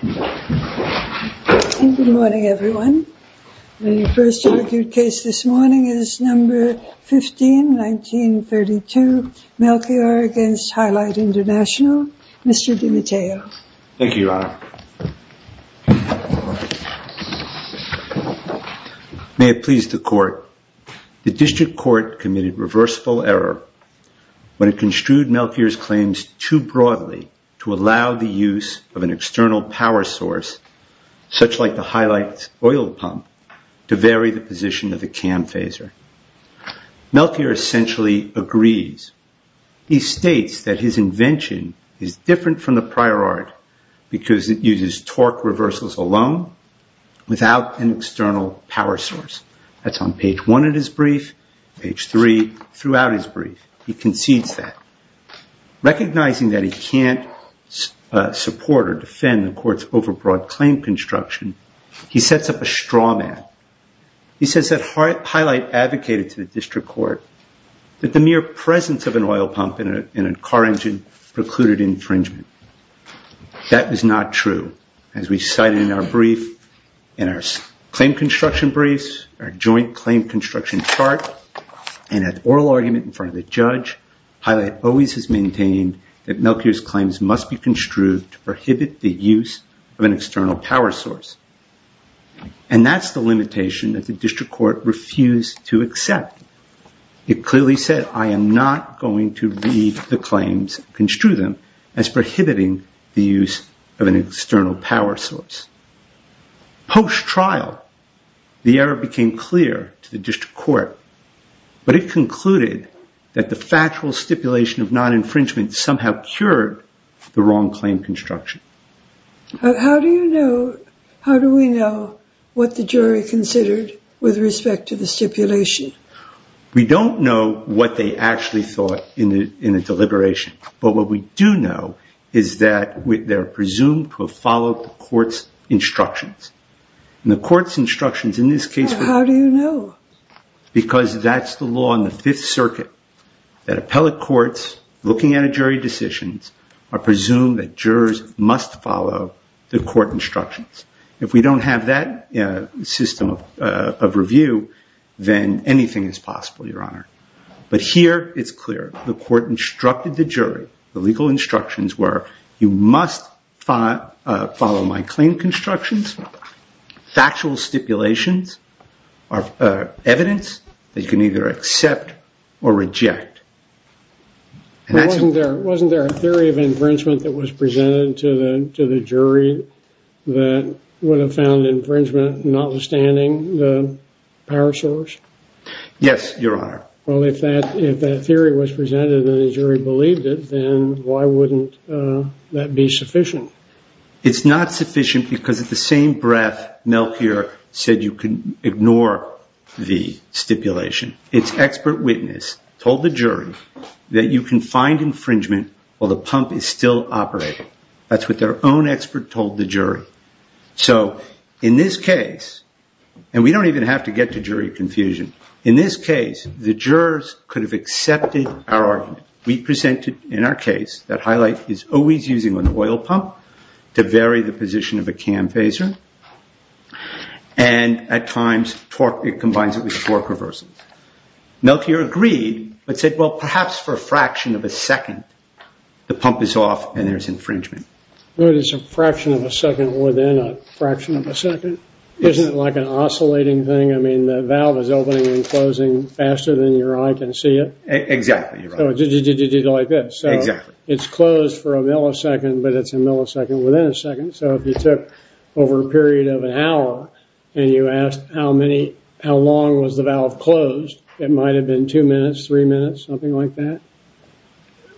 Good morning, everyone. The first argued case this morning is No. 15, 1932, Melchior v. Hilite International. Mr. DiMatteo. Thank you, Your Honor. May it please the Court. The District Court committed reversible error when it construed Melchior's claims too broadly to allow the use of an external power source, such like the Hilite's oil pump, to vary the position of the cam phaser. Melchior essentially agrees. He states that his invention is different from the prior art because it uses torque reversals alone without an external power source. That's on page one of his brief, page three, throughout his brief. He concedes that. Recognizing that he can't support or defend the Court's overbroad claim construction, he sets up a straw man. He says that Hilite advocated to the District Court that the mere presence of an oil pump in a car engine precluded infringement. That was not true. As we cited in our brief, in our claim construction briefs, our joint claim construction chart, and at oral argument in front of the judge, Hilite always has maintained that Melchior's claims must be construed to prohibit the use of an external power source. And that's the limitation that the District Court refused to accept. It clearly said, I am not going to read the claims, construe them, as prohibiting the use of an external power source. Post-trial, the error became clear to the District Court, but it concluded that the factual stipulation of non-infringement somehow cured the wrong claim construction. How do you know, how do we know what the jury considered with respect to the stipulation? We don't know what they actually thought in the deliberation, but what we do know is that they're presumed to have followed the Court's instructions. And the Court's instructions in this case... How do you know? Because that's the law in the Fifth Circuit, that appellate courts, looking at a jury decisions, are presumed that jurors must follow the Court instructions. If we don't have that system of review, then anything is possible, Your Honor. But here, it's clear. The Court instructed the jury, the legal instructions were, you must follow my claim constructions, factual stipulations, evidence that you can either accept or reject. Wasn't there a theory of infringement that was presented to the jury that would have found infringement notwithstanding the power source? Yes, Your Honor. Well, if that theory was presented and the jury believed it, then why wouldn't that be sufficient? It's not sufficient because at the same breath, Melchior said you can ignore the stipulation. Its expert witness told the jury that you can find infringement while the pump is still operating. So, in this case, and we don't even have to get to jury confusion, in this case, the jurors could have accepted our argument. We presented in our case that Highlight is always using an oil pump to vary the position of a cam phaser, and at times, it combines it with a torque reversal. Melchior agreed, but said, well, perhaps for a fraction of a second, the pump is off and there's infringement. What is a fraction of a second within a fraction of a second? Isn't it like an oscillating thing? I mean, the valve is opening and closing faster than your eye can see it? Exactly, Your Honor. So, it's closed for a millisecond, but it's a millisecond within a second. So, if you took over a period of an hour and you asked how long was the valve closed, it might have been two minutes, three minutes, something like that?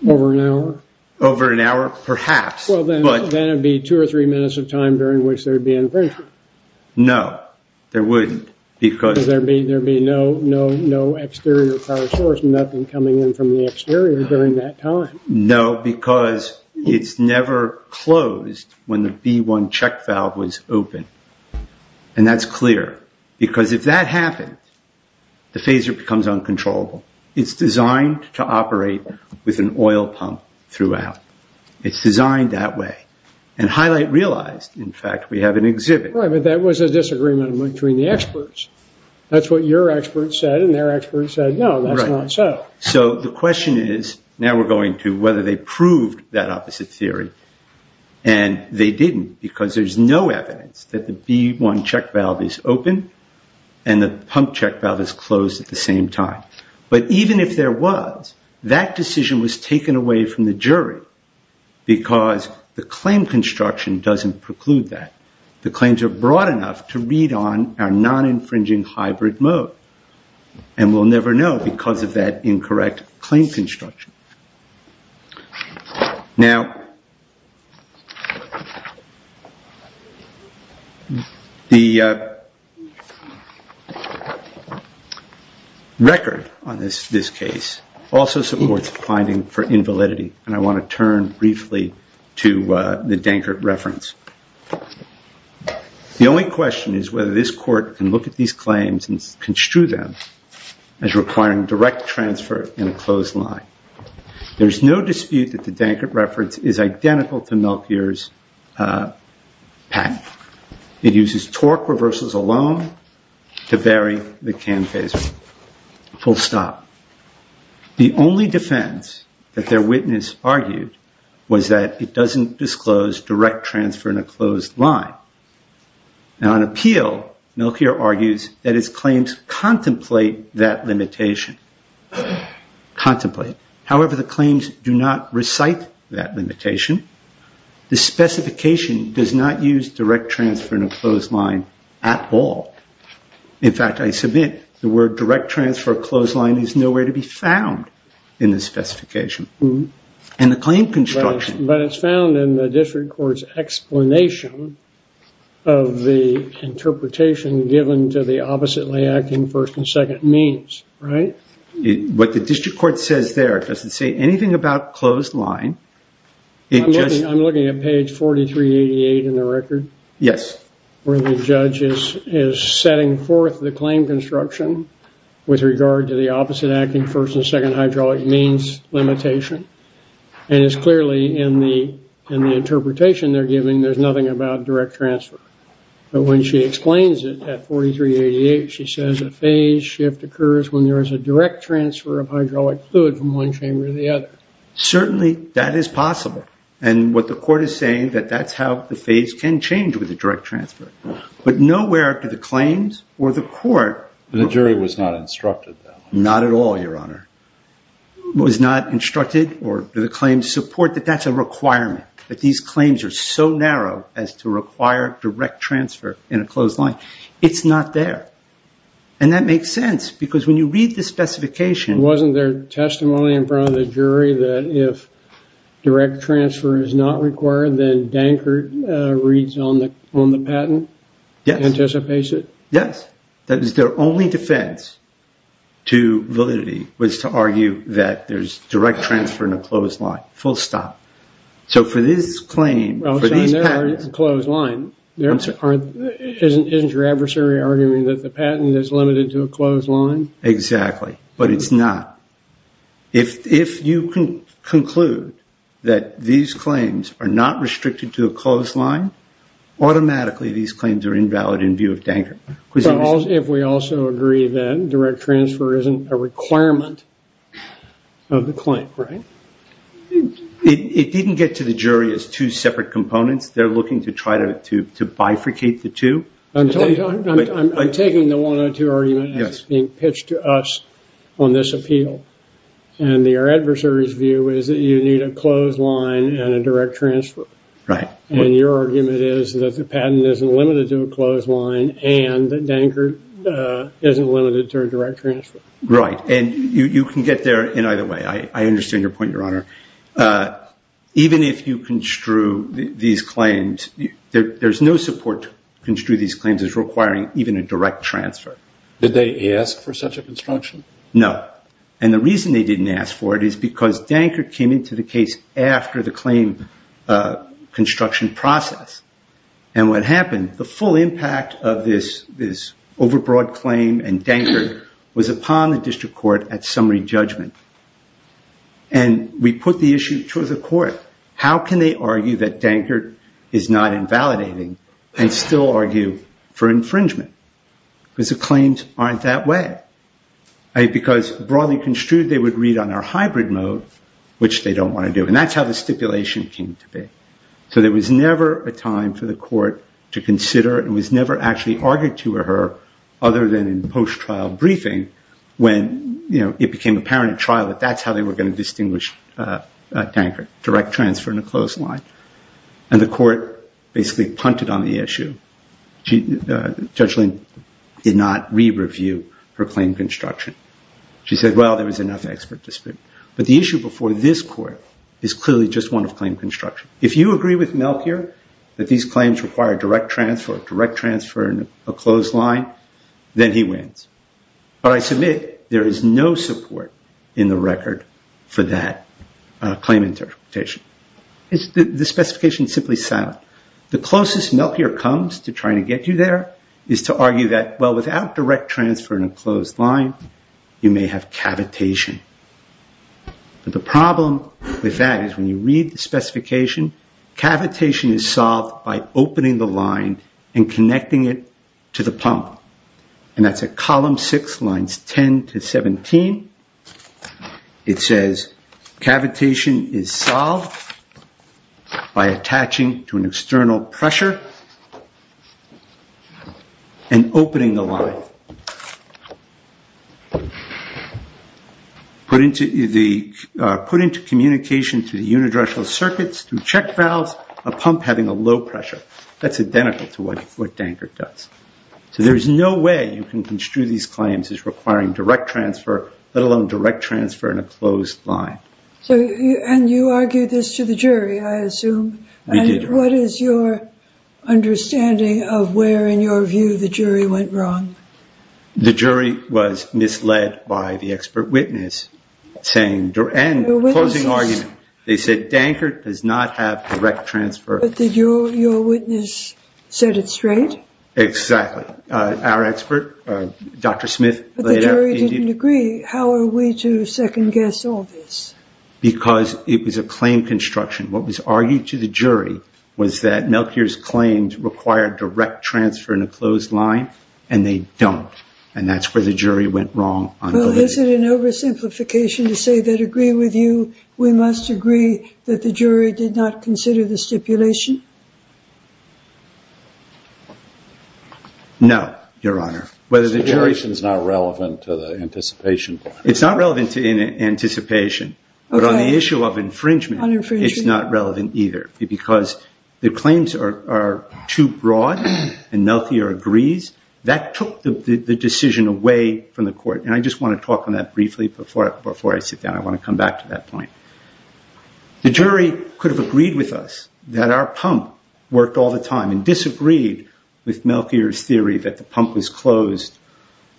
Over an hour? Over an hour, perhaps. Then it would be two or three minutes of time during which there would be infringement. No, there wouldn't. Because there would be no exterior power source, nothing coming in from the exterior during that time. No, because it's never closed when the B1 check valve was open, and that's clear. Because if that happened, the phaser becomes uncontrollable. It's designed to operate with an oil pump throughout. It's designed that way. And Highlight realized, in fact, we have an exhibit. Right, but that was a disagreement between the experts. That's what your experts said and their experts said, no, that's not so. So, the question is, now we're going to whether they proved that opposite theory. And they didn't, because there's no evidence that the B1 check valve is open and the pump check valve is closed at the same time. But even if there was, that decision was taken away from the jury, because the claim construction doesn't preclude that. The claims are broad enough to read on our non-infringing hybrid mode. And we'll never know because of that incorrect claim construction. Now, the record on this case also supports a finding for invalidity. And I want to turn briefly to the Dankert reference. The only question is whether this court can look at these claims and construe them as requiring direct transfer in a closed line. There's no dispute that the Dankert reference is identical to Melchior's patent. It uses torque reversals alone to vary the cam phaser. Full stop. The only defense that their witness argued was that it doesn't disclose direct transfer in a closed line. Now, on appeal, Melchior argues that his claims contemplate that limitation. Contemplate. However, the claims do not recite that limitation. The specification does not use direct transfer in a closed line at all. In fact, I submit the word direct transfer closed line is nowhere to be found in the specification. And the claim construction... But it's found in the district court's explanation of the interpretation given to the oppositely acting first and second means. Right? What the district court says there doesn't say anything about closed line. I'm looking at page 4388 in the record. Yes. Where the judge is setting forth the claim construction with regard to the opposite acting first and second hydraulic means limitation. And it's clearly in the interpretation they're giving there's nothing about direct transfer. But when she explains it at 4388, she says a phase shift occurs when there is a direct transfer of hydraulic fluid from one chamber to the other. Certainly, that is possible. And what the court is saying that that's how the phase can change with a direct transfer. But nowhere do the claims or the court... The jury was not instructed that way. Not at all, Your Honor. Was not instructed or the claims support that that's a requirement. But these claims are so narrow as to require direct transfer in a closed line. It's not there. And that makes sense because when you read the specification... Wasn't there testimony in front of the jury that if direct transfer is not required, then Dankert reads on the patent? Yes. Anticipates it? Yes. That was their only defense to validity was to argue that there's direct transfer in a closed line. Full stop. So for this claim... Well, it's already a closed line. Isn't your adversary arguing that the patent is limited to a closed line? Exactly. But it's not. If you can conclude that these claims are not restricted to a closed line, automatically these claims are invalid in view of Dankert. If we also agree that direct transfer isn't a requirement of the claim, right? It didn't get to the jury as two separate components. They're looking to try to bifurcate the two. I'm taking the 102 argument as being pitched to us on this appeal. And your adversary's view is that you need a closed line and a direct transfer. Right. And your argument is that the patent isn't limited to a closed line and that Dankert isn't limited to a direct transfer. Right. And you can get there in either way. I understand your point, Your Honor. Even if you construe these claims, there's no support to construe these claims as requiring even a direct transfer. Did they ask for such a construction? No. And the reason they didn't ask for it is because Dankert came into the case after the claim construction process. And what happened, the full impact of this overbroad claim and Dankert was upon the district court at summary judgment. And we put the issue to the court. How can they argue that Dankert is not invalidating and still argue for infringement? Because the claims aren't that way. Because broadly construed, they would read on our hybrid mode, which they don't want to do. And that's how the stipulation came to be. So there was never a time for the court to consider. It was never actually argued to her other than in post-trial briefing when it became apparent in trial that that's how they were going to distinguish Dankert, direct transfer in a closed line. And the court basically punted on the issue. Judge Lind did not re-review her claim construction. She said, well, there was enough expert dispute. But the issue before this court is clearly just one of claim construction. If you agree with Melchior that these claims require direct transfer, direct transfer in a closed line, then he wins. But I submit there is no support in the record for that claim interpretation. The specification is simply sound. The closest Melchior comes to trying to get you there is to argue that, well, without direct transfer in a closed line, you may have cavitation. But the problem with that is when you read the specification, cavitation is solved by opening the line and connecting it to the pump. And that's at column six, lines 10 to 17. It says, cavitation is solved by attaching to an external pressure and opening the line. Put into communication to the unidirectional circuits through check valves, a pump having a low pressure. That's identical to what Dankert does. So there is no way you can construe these claims as requiring direct transfer, let alone direct transfer in a closed line. And you argued this to the jury, I assume. We did. And what is your understanding of where, in your view, the jury went wrong? The jury was misled by the expert witness. And the closing argument, they said Dankert does not have direct transfer. But did your witness set it straight? Exactly. Our expert, Dr. Smith. But the jury didn't agree. How are we to second guess all this? Because it was a claim construction. What was argued to the jury was that Melchior's claims required direct transfer in a closed line, and they don't. And that's where the jury went wrong. Well, is it an oversimplification to say that, agree with you, we must agree that the jury did not consider the stipulation? No, Your Honor. The stipulation is not relevant to the anticipation. It's not relevant to anticipation. But on the issue of infringement, it's not relevant either. Because the claims are too broad, and Melchior agrees, that took the decision away from the court. And I just want to talk on that briefly before I sit down. I want to come back to that point. The jury could have agreed with us that our pump worked all the time and disagreed with Melchior's theory that the pump was closed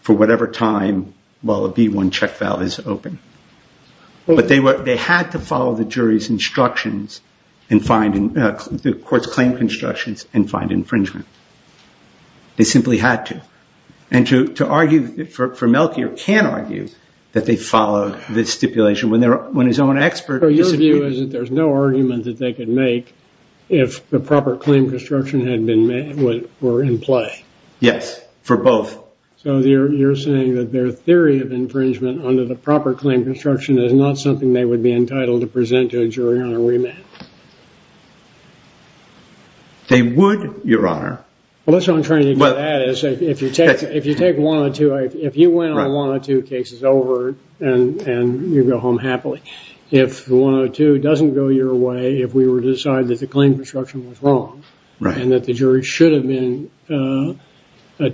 for whatever time, well, a B1 check valve is open. But they had to follow the jury's instructions in finding the court's claim constructions and find infringement. They simply had to. And to argue for Melchior can argue that they follow the stipulation when his own expert disagrees. So your view is that there's no argument that they could make if the proper claim construction were in play? Yes, for both. So you're saying that their theory of infringement under the proper claim construction is not something they would be entitled to present to a jury on a remand? They would, Your Honor. Well, that's what I'm trying to get at. If you take 102, if you went on 102 cases over and you go home happily, if 102 doesn't go your way, if we were to decide that the claim construction was wrong and that the jury should have been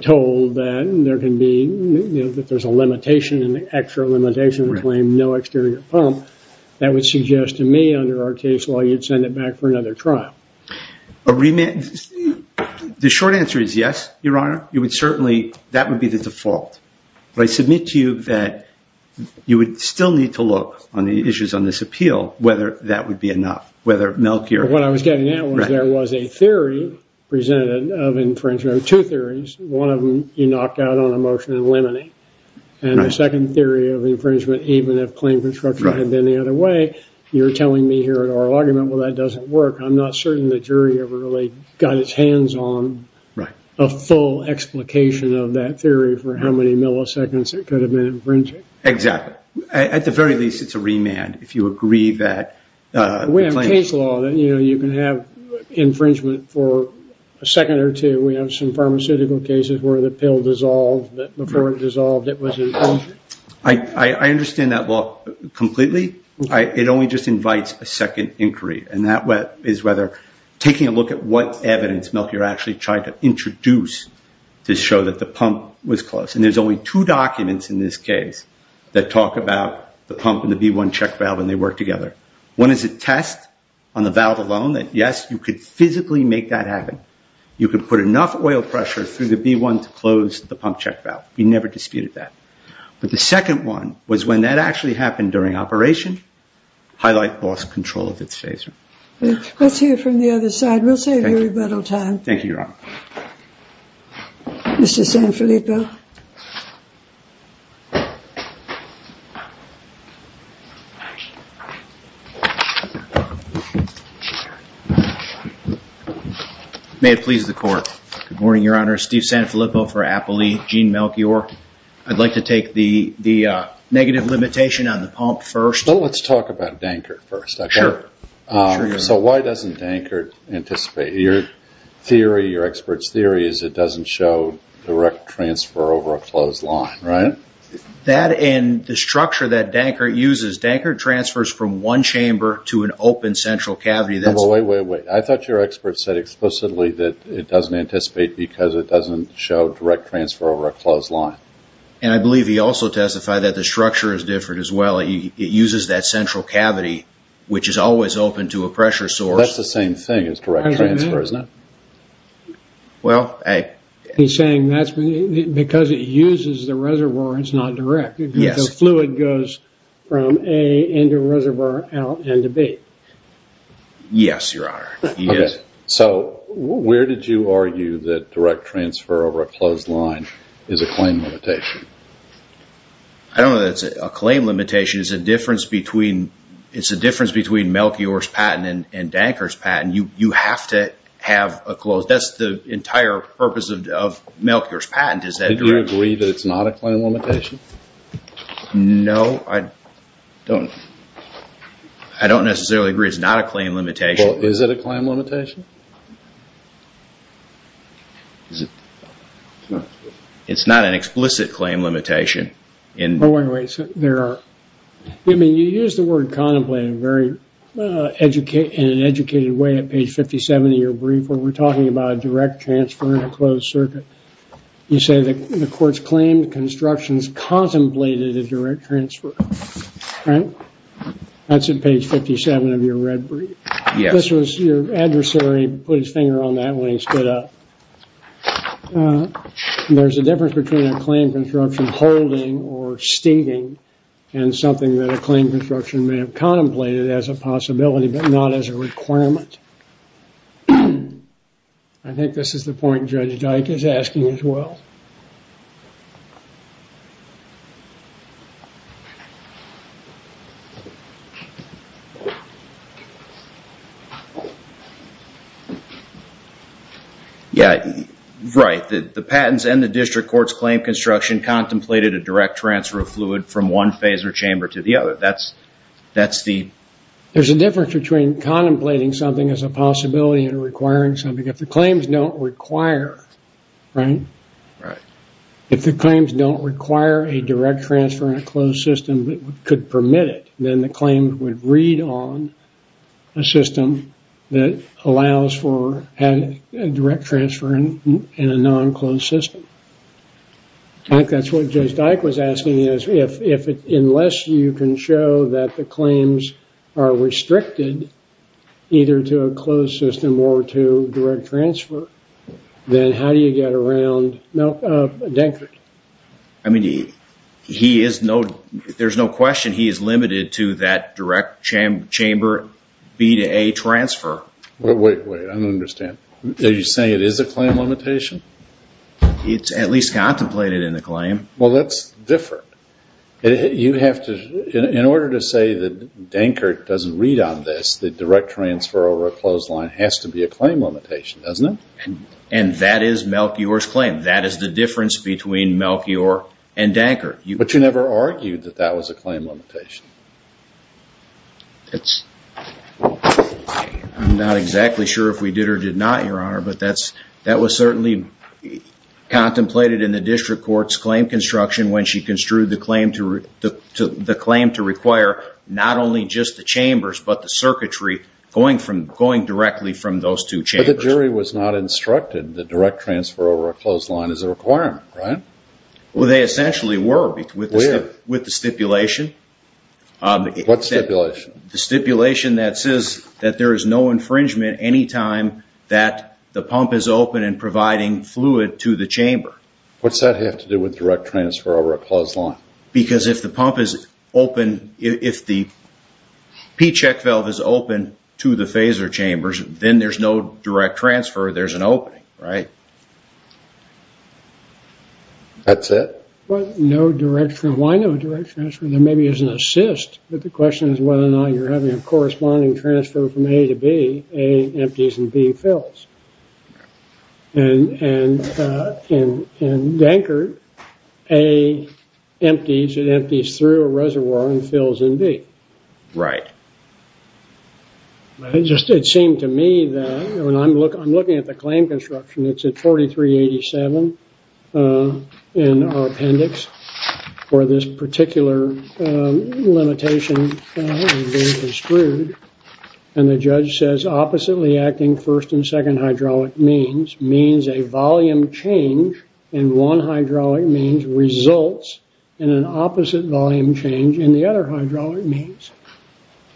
told that there's an extra limitation to claim no exterior pump, that would suggest to me under our case law you'd send it back for another trial. The short answer is yes, Your Honor. That would be the default. But I submit to you that you would still need to look on the issues on this appeal whether that would be enough. What I was getting at was there was a theory presented of infringement. Two theories. One of them, you knock out on a motion and eliminate. And the second theory of infringement, even if claim construction had been the other way, you're telling me here at oral argument, well, that doesn't work. I'm not certain the jury ever really got its hands on a full explication of that theory for how many milliseconds it could have been infringing. Exactly. At the very least, it's a remand if you agree that. We have case law that you can have infringement for a second or two. We have some pharmaceutical cases where the pill dissolved. Before it dissolved, it was infringed. I understand that law completely. It only just invites a second inquiry. And that is whether taking a look at what evidence Melchior actually tried to introduce to show that the pump was closed. And there's only two documents in this case that talk about the pump and the B1 check valve and they work together. One is a test on the valve alone that, yes, you could physically make that happen. You could put enough oil pressure through the B1 to close the pump check valve. We never disputed that. But the second one was when that actually happened during operation, Highlight lost control of its phaser. Let's hear from the other side. We'll save you a little time. Thank you, Your Honor. Mr. Sanfilippo. May it please the court. Good morning, Your Honor. Steve Sanfilippo for Appley. Gene Melchior. I'd like to take the negative limitation on the pump first. Well, let's talk about Dankert first. Sure. So why doesn't Dankert anticipate? Your theory, your expert's theory, is it doesn't show direct transfer over a closed line, right? That and the structure that Dankert uses. Dankert transfers from one chamber to an open central cavity. Wait, wait, wait. I thought your expert said explicitly that it doesn't anticipate because it doesn't show direct transfer over a closed line. And I believe he also testified that the structure is different as well. It uses that central cavity, which is always open to a pressure source. Well, that's the same thing as direct transfer, isn't it? Well, A. He's saying because it uses the reservoir, it's not direct. The fluid goes from A into reservoir out into B. Yes, Your Honor. So where did you argue that direct transfer over a closed line is a claim limitation? I don't know that it's a claim limitation. It's a difference between Melchior's patent and Dankert's patent. You have to have a closed. That's the entire purpose of Melchior's patent is that direct. Do you agree that it's not a claim limitation? No, I don't. I don't necessarily agree it's not a claim limitation. Well, is it a claim limitation? It's not an explicit claim limitation. Oh, wait a minute. You use the word contemplate in an educated way at page 57 of your brief where we're talking about a direct transfer in a closed circuit. You say the court's claimed constructions contemplated a direct transfer. That's at page 57 of your red brief. Yes. Your adversary put his finger on that when he stood up. There's a difference between a claim construction holding or stating and something that a claim construction may have contemplated as a possibility but not as a requirement. I think this is the point Judge Dyke is asking as well. Yeah, right. The patents and the district court's claim construction contemplated a direct transfer of fluid from one phaser chamber to the other. There's a difference between contemplating something as a possibility and requiring something. If the claims don't require, right? Right. If the claims don't require a direct transfer in a closed system that could permit it, then the claim would read on a system that allows for a direct transfer in a non-closed system. I think that's what Judge Dyke was asking. Unless you can show that the claims are restricted either to a closed system or to direct transfer, then how do you get around Denford? There's no question he is limited to that direct chamber B to A transfer. Wait, wait. I don't understand. Are you saying it is a claim limitation? It's at least contemplated in the claim. Well, that's different. In order to say that Dankert doesn't read on this, the direct transfer over a closed line has to be a claim limitation, doesn't it? And that is Melchior's claim. That is the difference between Melchior and Dankert. But you never argued that that was a claim limitation. That was certainly contemplated in the district court's claim construction when she construed the claim to require not only just the chambers but the circuitry going directly from those two chambers. But the jury was not instructed that direct transfer over a closed line is a requirement, right? Well, they essentially were with the stipulation. What stipulation? The stipulation that says that there is no infringement any time that the pump is open and providing fluid to the chamber. What's that have to do with direct transfer over a closed line? Because if the pump is open, if the P-check valve is open to the phaser chambers, then there's no direct transfer. There's an opening, right? That's it? No direct transfer. Why no direct transfer? There maybe is an assist. But the question is whether or not you're having a corresponding transfer from A to B. A empties and B fills. And in Dankert, A empties and empties through a reservoir and fills in B. Right. It just seemed to me that when I'm looking at the claim construction, it's at 4387 in our appendix where this particular limitation has been construed. And the judge says oppositely acting first and second hydraulic means, means a volume change in one hydraulic means results in an opposite volume change in the other hydraulic means.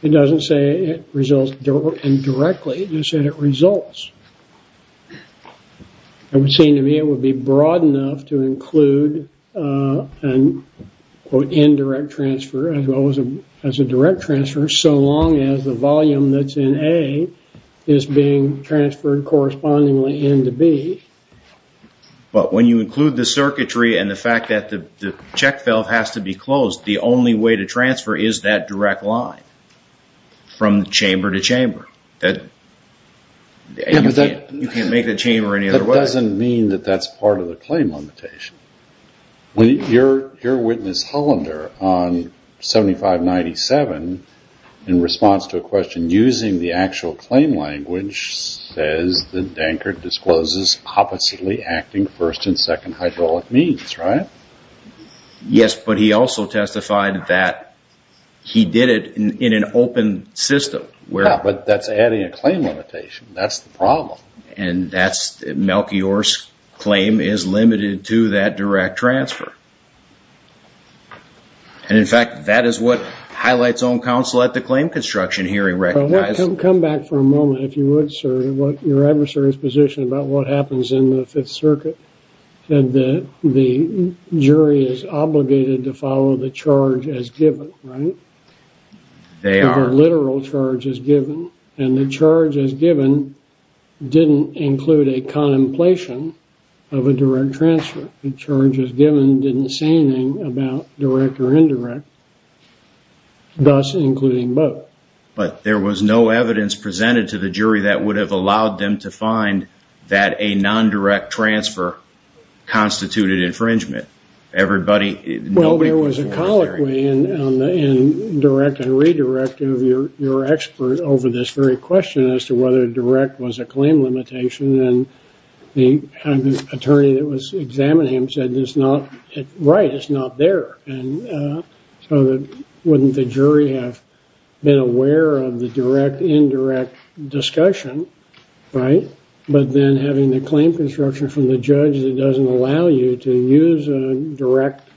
It doesn't say it results indirectly. It just said it results. It would seem to me it would be broad enough to include an, quote, indirect transfer as well as a direct transfer so long as the volume that's in A is being transferred correspondingly into B. But when you include the circuitry and the fact that the check valve has to be closed, the only way to transfer is that direct line from chamber to chamber. You can't make the chamber any other way. That doesn't mean that that's part of the claim limitation. Your witness Hollander on 7597 in response to a question using the actual claim language says that Dankert discloses oppositely acting first and second hydraulic means, right? Yes, but he also testified that he did it in an open system. Yeah, but that's adding a claim limitation. That's the problem. And that's Melchior's claim is limited to that direct transfer. And, in fact, that is what highlights on counsel at the claim construction hearing recognized. Come back for a moment, if you would, sir, your adversary's position about what happens in the Fifth Circuit said that the jury is obligated to follow the charge as given, right? They are. The literal charge as given. And the charge as given didn't include a contemplation of a direct transfer. The charge as given didn't say anything about direct or indirect, thus including both. But there was no evidence presented to the jury that would have allowed them to find that a non-direct transfer constituted infringement. Well, there was a colloquy in direct and redirect of your expert over this very question as to whether direct was a claim limitation. And the attorney that was examining him said, right, it's not there. So wouldn't the jury have been aware of the direct-indirect discussion, right, but then having the claim construction from the judge that doesn't allow you to use a direct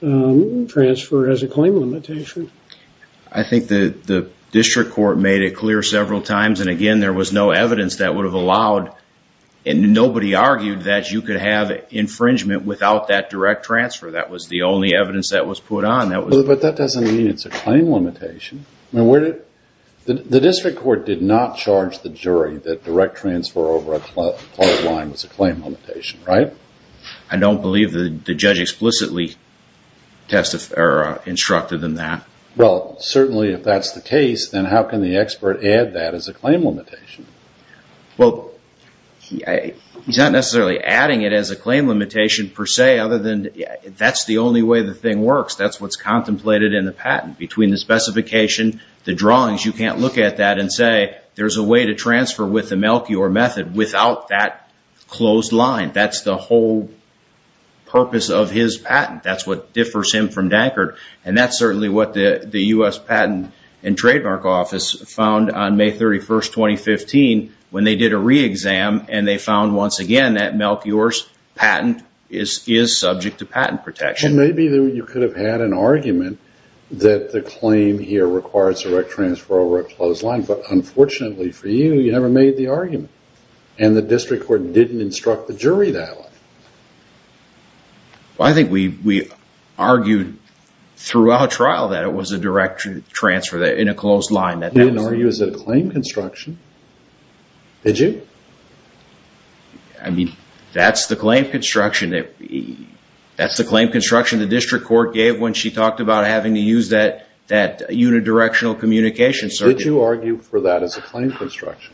transfer as a claim limitation? I think the district court made it clear several times. And, again, there was no evidence that would have allowed and nobody argued that you could have infringement without that direct transfer. That was the only evidence that was put on. But that doesn't mean it's a claim limitation. The district court did not charge the jury that direct transfer over a cloth line was a claim limitation, right? I don't believe the judge explicitly instructed them that. Well, certainly if that's the case, then how can the expert add that as a claim limitation? Well, he's not necessarily adding it as a claim limitation per se, other than that's the only way the thing works. That's what's contemplated in the patent. Between the specification, the drawings, you can't look at that and say, there's a way to transfer with the Melchior method without that closed line. That's the whole purpose of his patent. That's what differs him from Dankert. And that's certainly what the U.S. Patent and Trademark Office found on May 31, 2015, when they did a re-exam and they found, once again, that Melchior's patent is subject to patent protection. Well, maybe you could have had an argument that the claim here requires direct transfer over a closed line. But, unfortunately for you, you never made the argument. And the district court didn't instruct the jury that way. Well, I think we argued throughout trial that it was a direct transfer in a closed line. You didn't argue as a claim construction. Did you? I mean, that's the claim construction. That's the claim construction the district court gave when she talked about having to use that unidirectional communication circuit. Did you argue for that as a claim construction?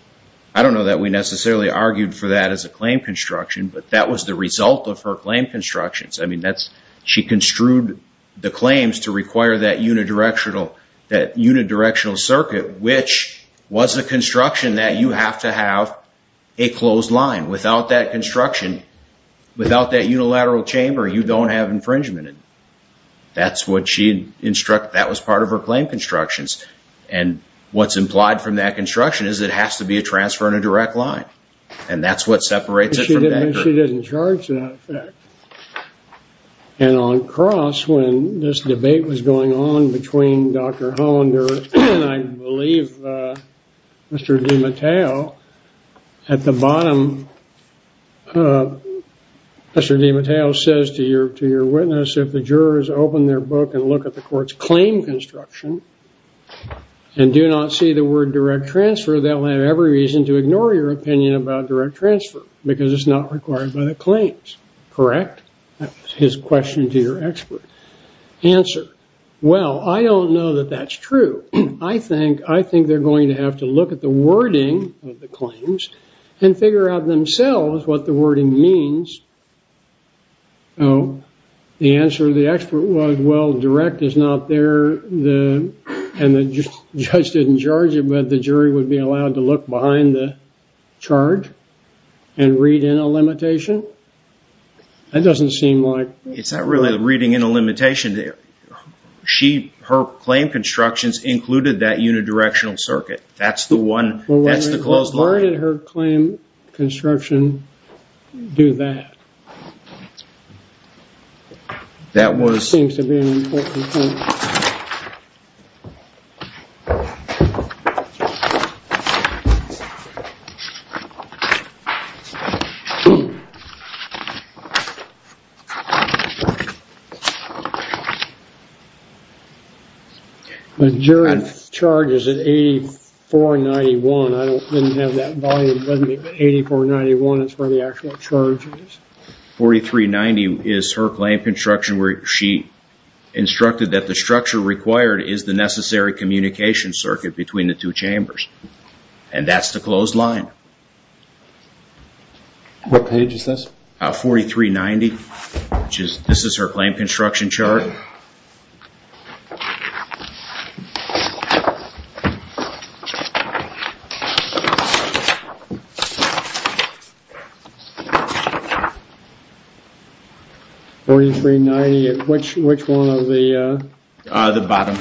I don't know that we necessarily argued for that as a claim construction. But that was the result of her claim constructions. I mean, she construed the claims to require that unidirectional circuit, which was a construction that you have to have a closed line. Without that construction, without that unilateral chamber, you don't have infringement. That was part of her claim constructions. And what's implied from that construction is it has to be a transfer in a direct line. And that's what separates it from that group. She didn't charge that effect. And on cross, when this debate was going on between Dr. Hollander and I believe Mr. DiMatteo, at the bottom, Mr. DiMatteo says to your witness, if the jurors open their book and look at the court's claim construction and do not see the word direct transfer, they'll have every reason to ignore your opinion about direct transfer because it's not required by the claims. Correct? That's his question to your expert. Answer. Well, I don't know that that's true. I think they're going to have to look at the wording of the claims and figure out themselves what the wording means. The answer of the expert was, well, direct is not there, and the judge didn't charge it, but the jury would be allowed to look behind the charge and read in a limitation. That doesn't seem like... It's not really reading in a limitation. Her claim constructions included that unidirectional circuit. That's the one. That's the closed line. Why did her claim construction do that? That seems to be an important point. Majority charge is at 8491. I didn't have that volume with me, but 8491 is where the actual charge is. 4390 is her claim construction where she instructed that the structure required is the necessary communication circuit between the two chambers. And that's the closed line. What page is this? 4390, this is her claim construction chart. 4390, which one of the... The bottom,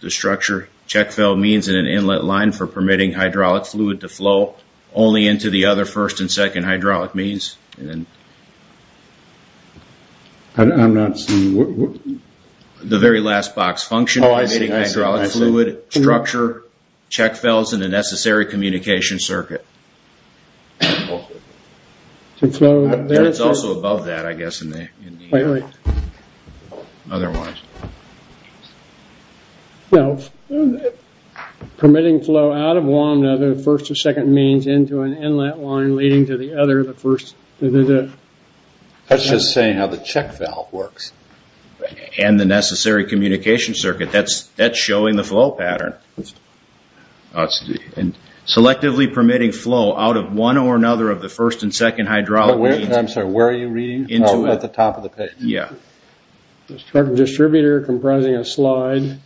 the structure. Check valve means in an inlet line for permitting hydraulic fluid to flow only into the other first and second hydraulic means. I'm not seeing... The very last box. Function permitting hydraulic fluid structure check valves in the necessary communication circuit. That's also above that, I guess, in the... Wait, wait. Otherwise. No. Permitting flow out of one of the first or second means into an inlet line leading to the other, the first... That's just saying how the check valve works. And the necessary communication circuit. That's showing the flow pattern. Selectively permitting flow out of one or another of the first and second hydraulic... I'm sorry, where are you reading? At the top of the page. Yeah. Distributor comprising a slide,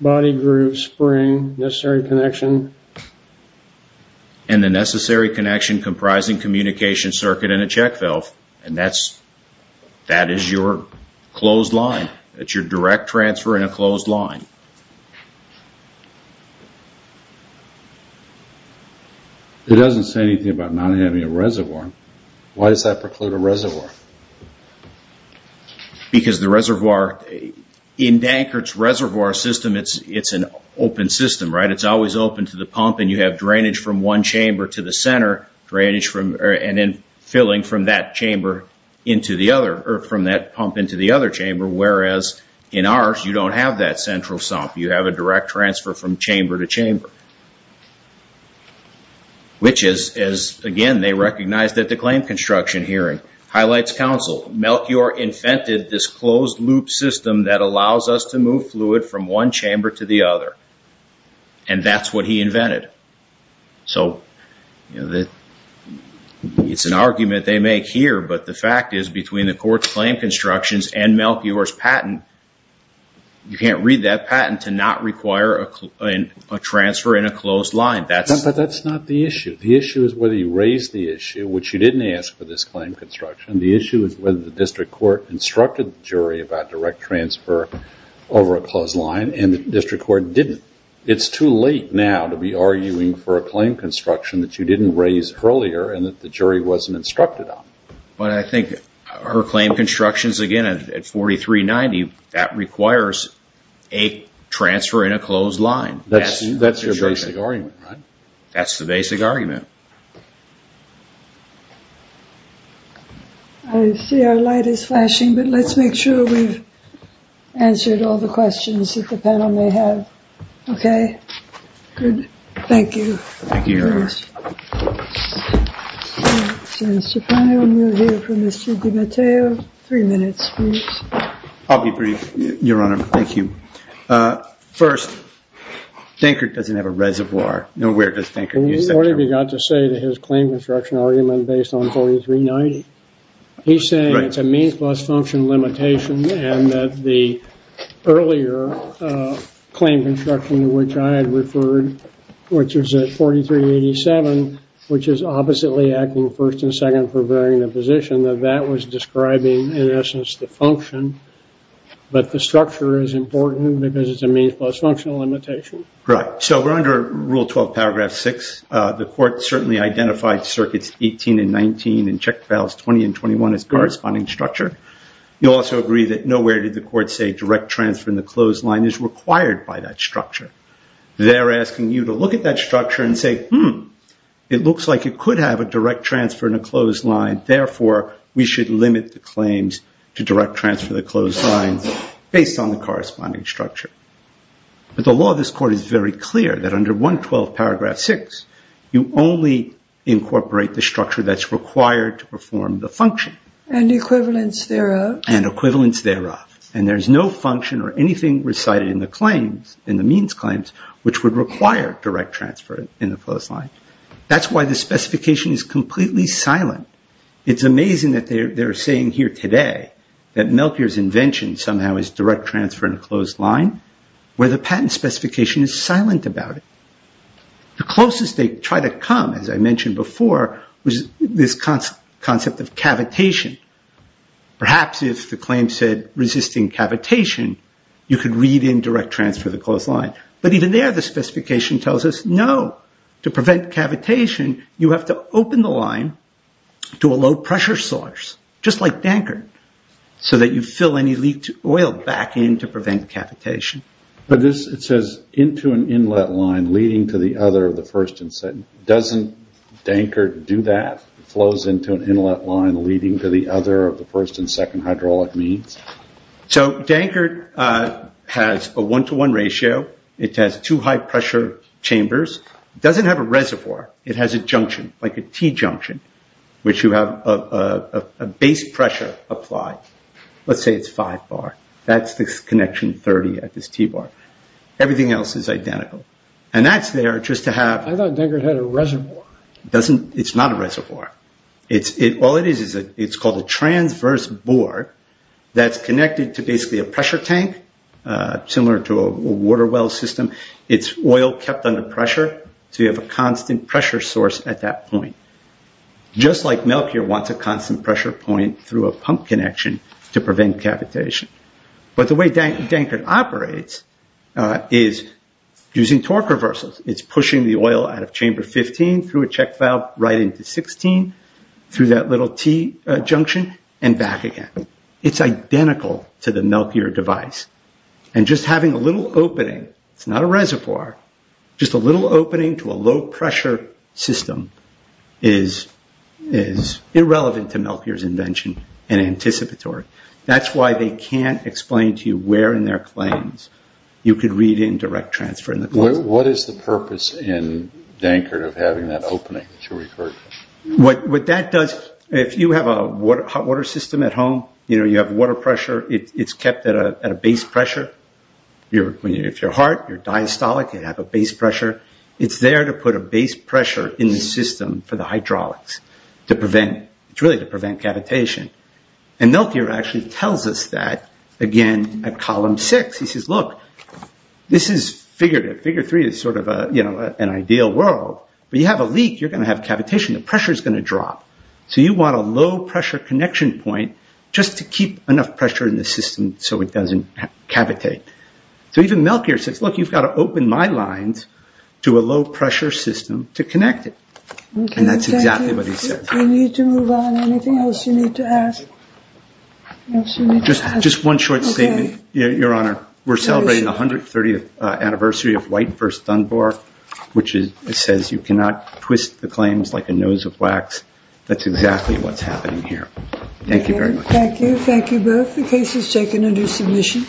body group, spring, necessary connection. And the necessary connection comprising communication circuit in a check valve. And that is your closed line. That's your direct transfer in a closed line. It doesn't say anything about not having a reservoir. Why does that preclude a reservoir? Because the reservoir... In Dankert's reservoir system, it's an open system, right? It's always open to the pump, and you have drainage from one chamber to the center, and then filling from that pump into the other chamber. Whereas in ours, you don't have that central sump. You have a direct transfer from chamber to chamber. Which is, again, they recognized at the claim construction hearing. Highlights counsel. Melchior invented this closed-loop system that allows us to move fluid from one chamber to the other. And that's what he invented. So it's an argument they make here, but the fact is between the court's claim constructions and Melchior's patent, you can't read that patent to not require a transfer in a closed line. But that's not the issue. The issue is whether you raise the issue, which you didn't ask for this claim construction. The issue is whether the district court instructed the jury about direct transfer over a closed line, and the district court didn't. It's too late now to be arguing for a claim construction that you didn't raise earlier and that the jury wasn't instructed on. But I think her claim constructions, again, at 4390, that requires a transfer in a closed line. That's your basic argument, right? That's the basic argument. I see our light is flashing, but let's make sure we've answered all the questions that the panel may have. Okay? Good. Thank you. Thank you. Thank you very much. Mr. Connell, we'll hear from Mr. DiMatteo. Three minutes, please. I'll be brief, Your Honor. Thank you. First, Dinkert doesn't have a reservoir. Nowhere does Dinkert use that term. What have you got to say to his claim construction argument based on 4390? He's saying it's a means plus function limitation and that the earlier claim construction to which I had referred, which is at 4387, which is oppositely acting first and second for varying the position, that that was describing, in essence, the function. But the structure is important because it's a means plus functional limitation. Right. So we're under Rule 12, Paragraph 6. The Court certainly identified Circuits 18 and 19 and checked Files 20 and 21 as the corresponding structure. You'll also agree that nowhere did the Court say direct transfer in the closed line is required by that structure. They're asking you to look at that structure and say, hmm, it looks like it could have a direct transfer in a closed line. Therefore, we should limit the claims to direct transfer the closed line based on the corresponding structure. But the law of this Court is very clear that under 112, Paragraph 6, you only incorporate the structure that's required to perform the function. And equivalence thereof. And equivalence thereof. And there's no function or anything recited in the claims, in the means claims, which would require direct transfer in the closed line. That's why the specification is completely silent. It's amazing that they're saying here today that Melchior's invention somehow is direct transfer in a closed line, where the patent specification is silent about it. The closest they try to come, as I mentioned before, was this concept of cavitation. Perhaps if the claim said resisting cavitation, you could read in direct transfer of the closed line. But even there, the specification tells us no. To prevent cavitation, you have to open the line to a low pressure source, just like Dankert, so that you fill any leaked oil back in to prevent cavitation. But this, it says, into an inlet line leading to the other of the first and second. Doesn't Dankert do that? It flows into an inlet line leading to the other of the first and second hydraulic means? So Dankert has a one-to-one ratio. It has two high-pressure chambers. It doesn't have a reservoir. It has a junction, like a T-junction, which you have a base pressure applied. Let's say it's five bar. That's this connection 30 at this T-bar. Everything else is identical. And that's there just to have… I thought Dankert had a reservoir. It's not a reservoir. All it is is it's called a transverse bore that's connected to basically a pressure tank, similar to a water well system. It's oil kept under pressure, so you have a constant pressure source at that point, just like Melchior wants a constant pressure point through a pump connection to prevent cavitation. But the way Dankert operates is using torque reversals. It's pushing the oil out of chamber 15 through a check valve right into 16, through that little T-junction, and back again. It's identical to the Melchior device. And just having a little opening – it's not a reservoir – just a little opening to a low-pressure system is irrelevant to Melchior's invention and anticipatory. That's why they can't explain to you where in their claims you could read in direct transfer. What is the purpose in Dankert of having that opening that you referred to? What that does – if you have a hot water system at home, you have water pressure, it's kept at a base pressure. If you're hard, you're diastolic, you'd have a base pressure. It's there to put a base pressure in the system for the hydraulics to prevent – it's really to prevent cavitation. And Melchior actually tells us that, again, at column six. He says, look, this is figurative. Figure three is sort of an ideal world. When you have a leak, you're going to have cavitation. The pressure is going to drop. So you want a low-pressure connection point just to keep enough pressure in the system so it doesn't cavitate. So even Melchior says, look, you've got to open my lines to a low-pressure system to connect it. And that's exactly what he says. We need to move on. Anything else you need to ask? Just one short statement, Your Honor. We're celebrating the 130th anniversary of White v. Dunbar, which says you cannot twist the claims like a nose of wax. That's exactly what's happening here. Thank you very much. Thank you. Thank you both. The case is taken under submission.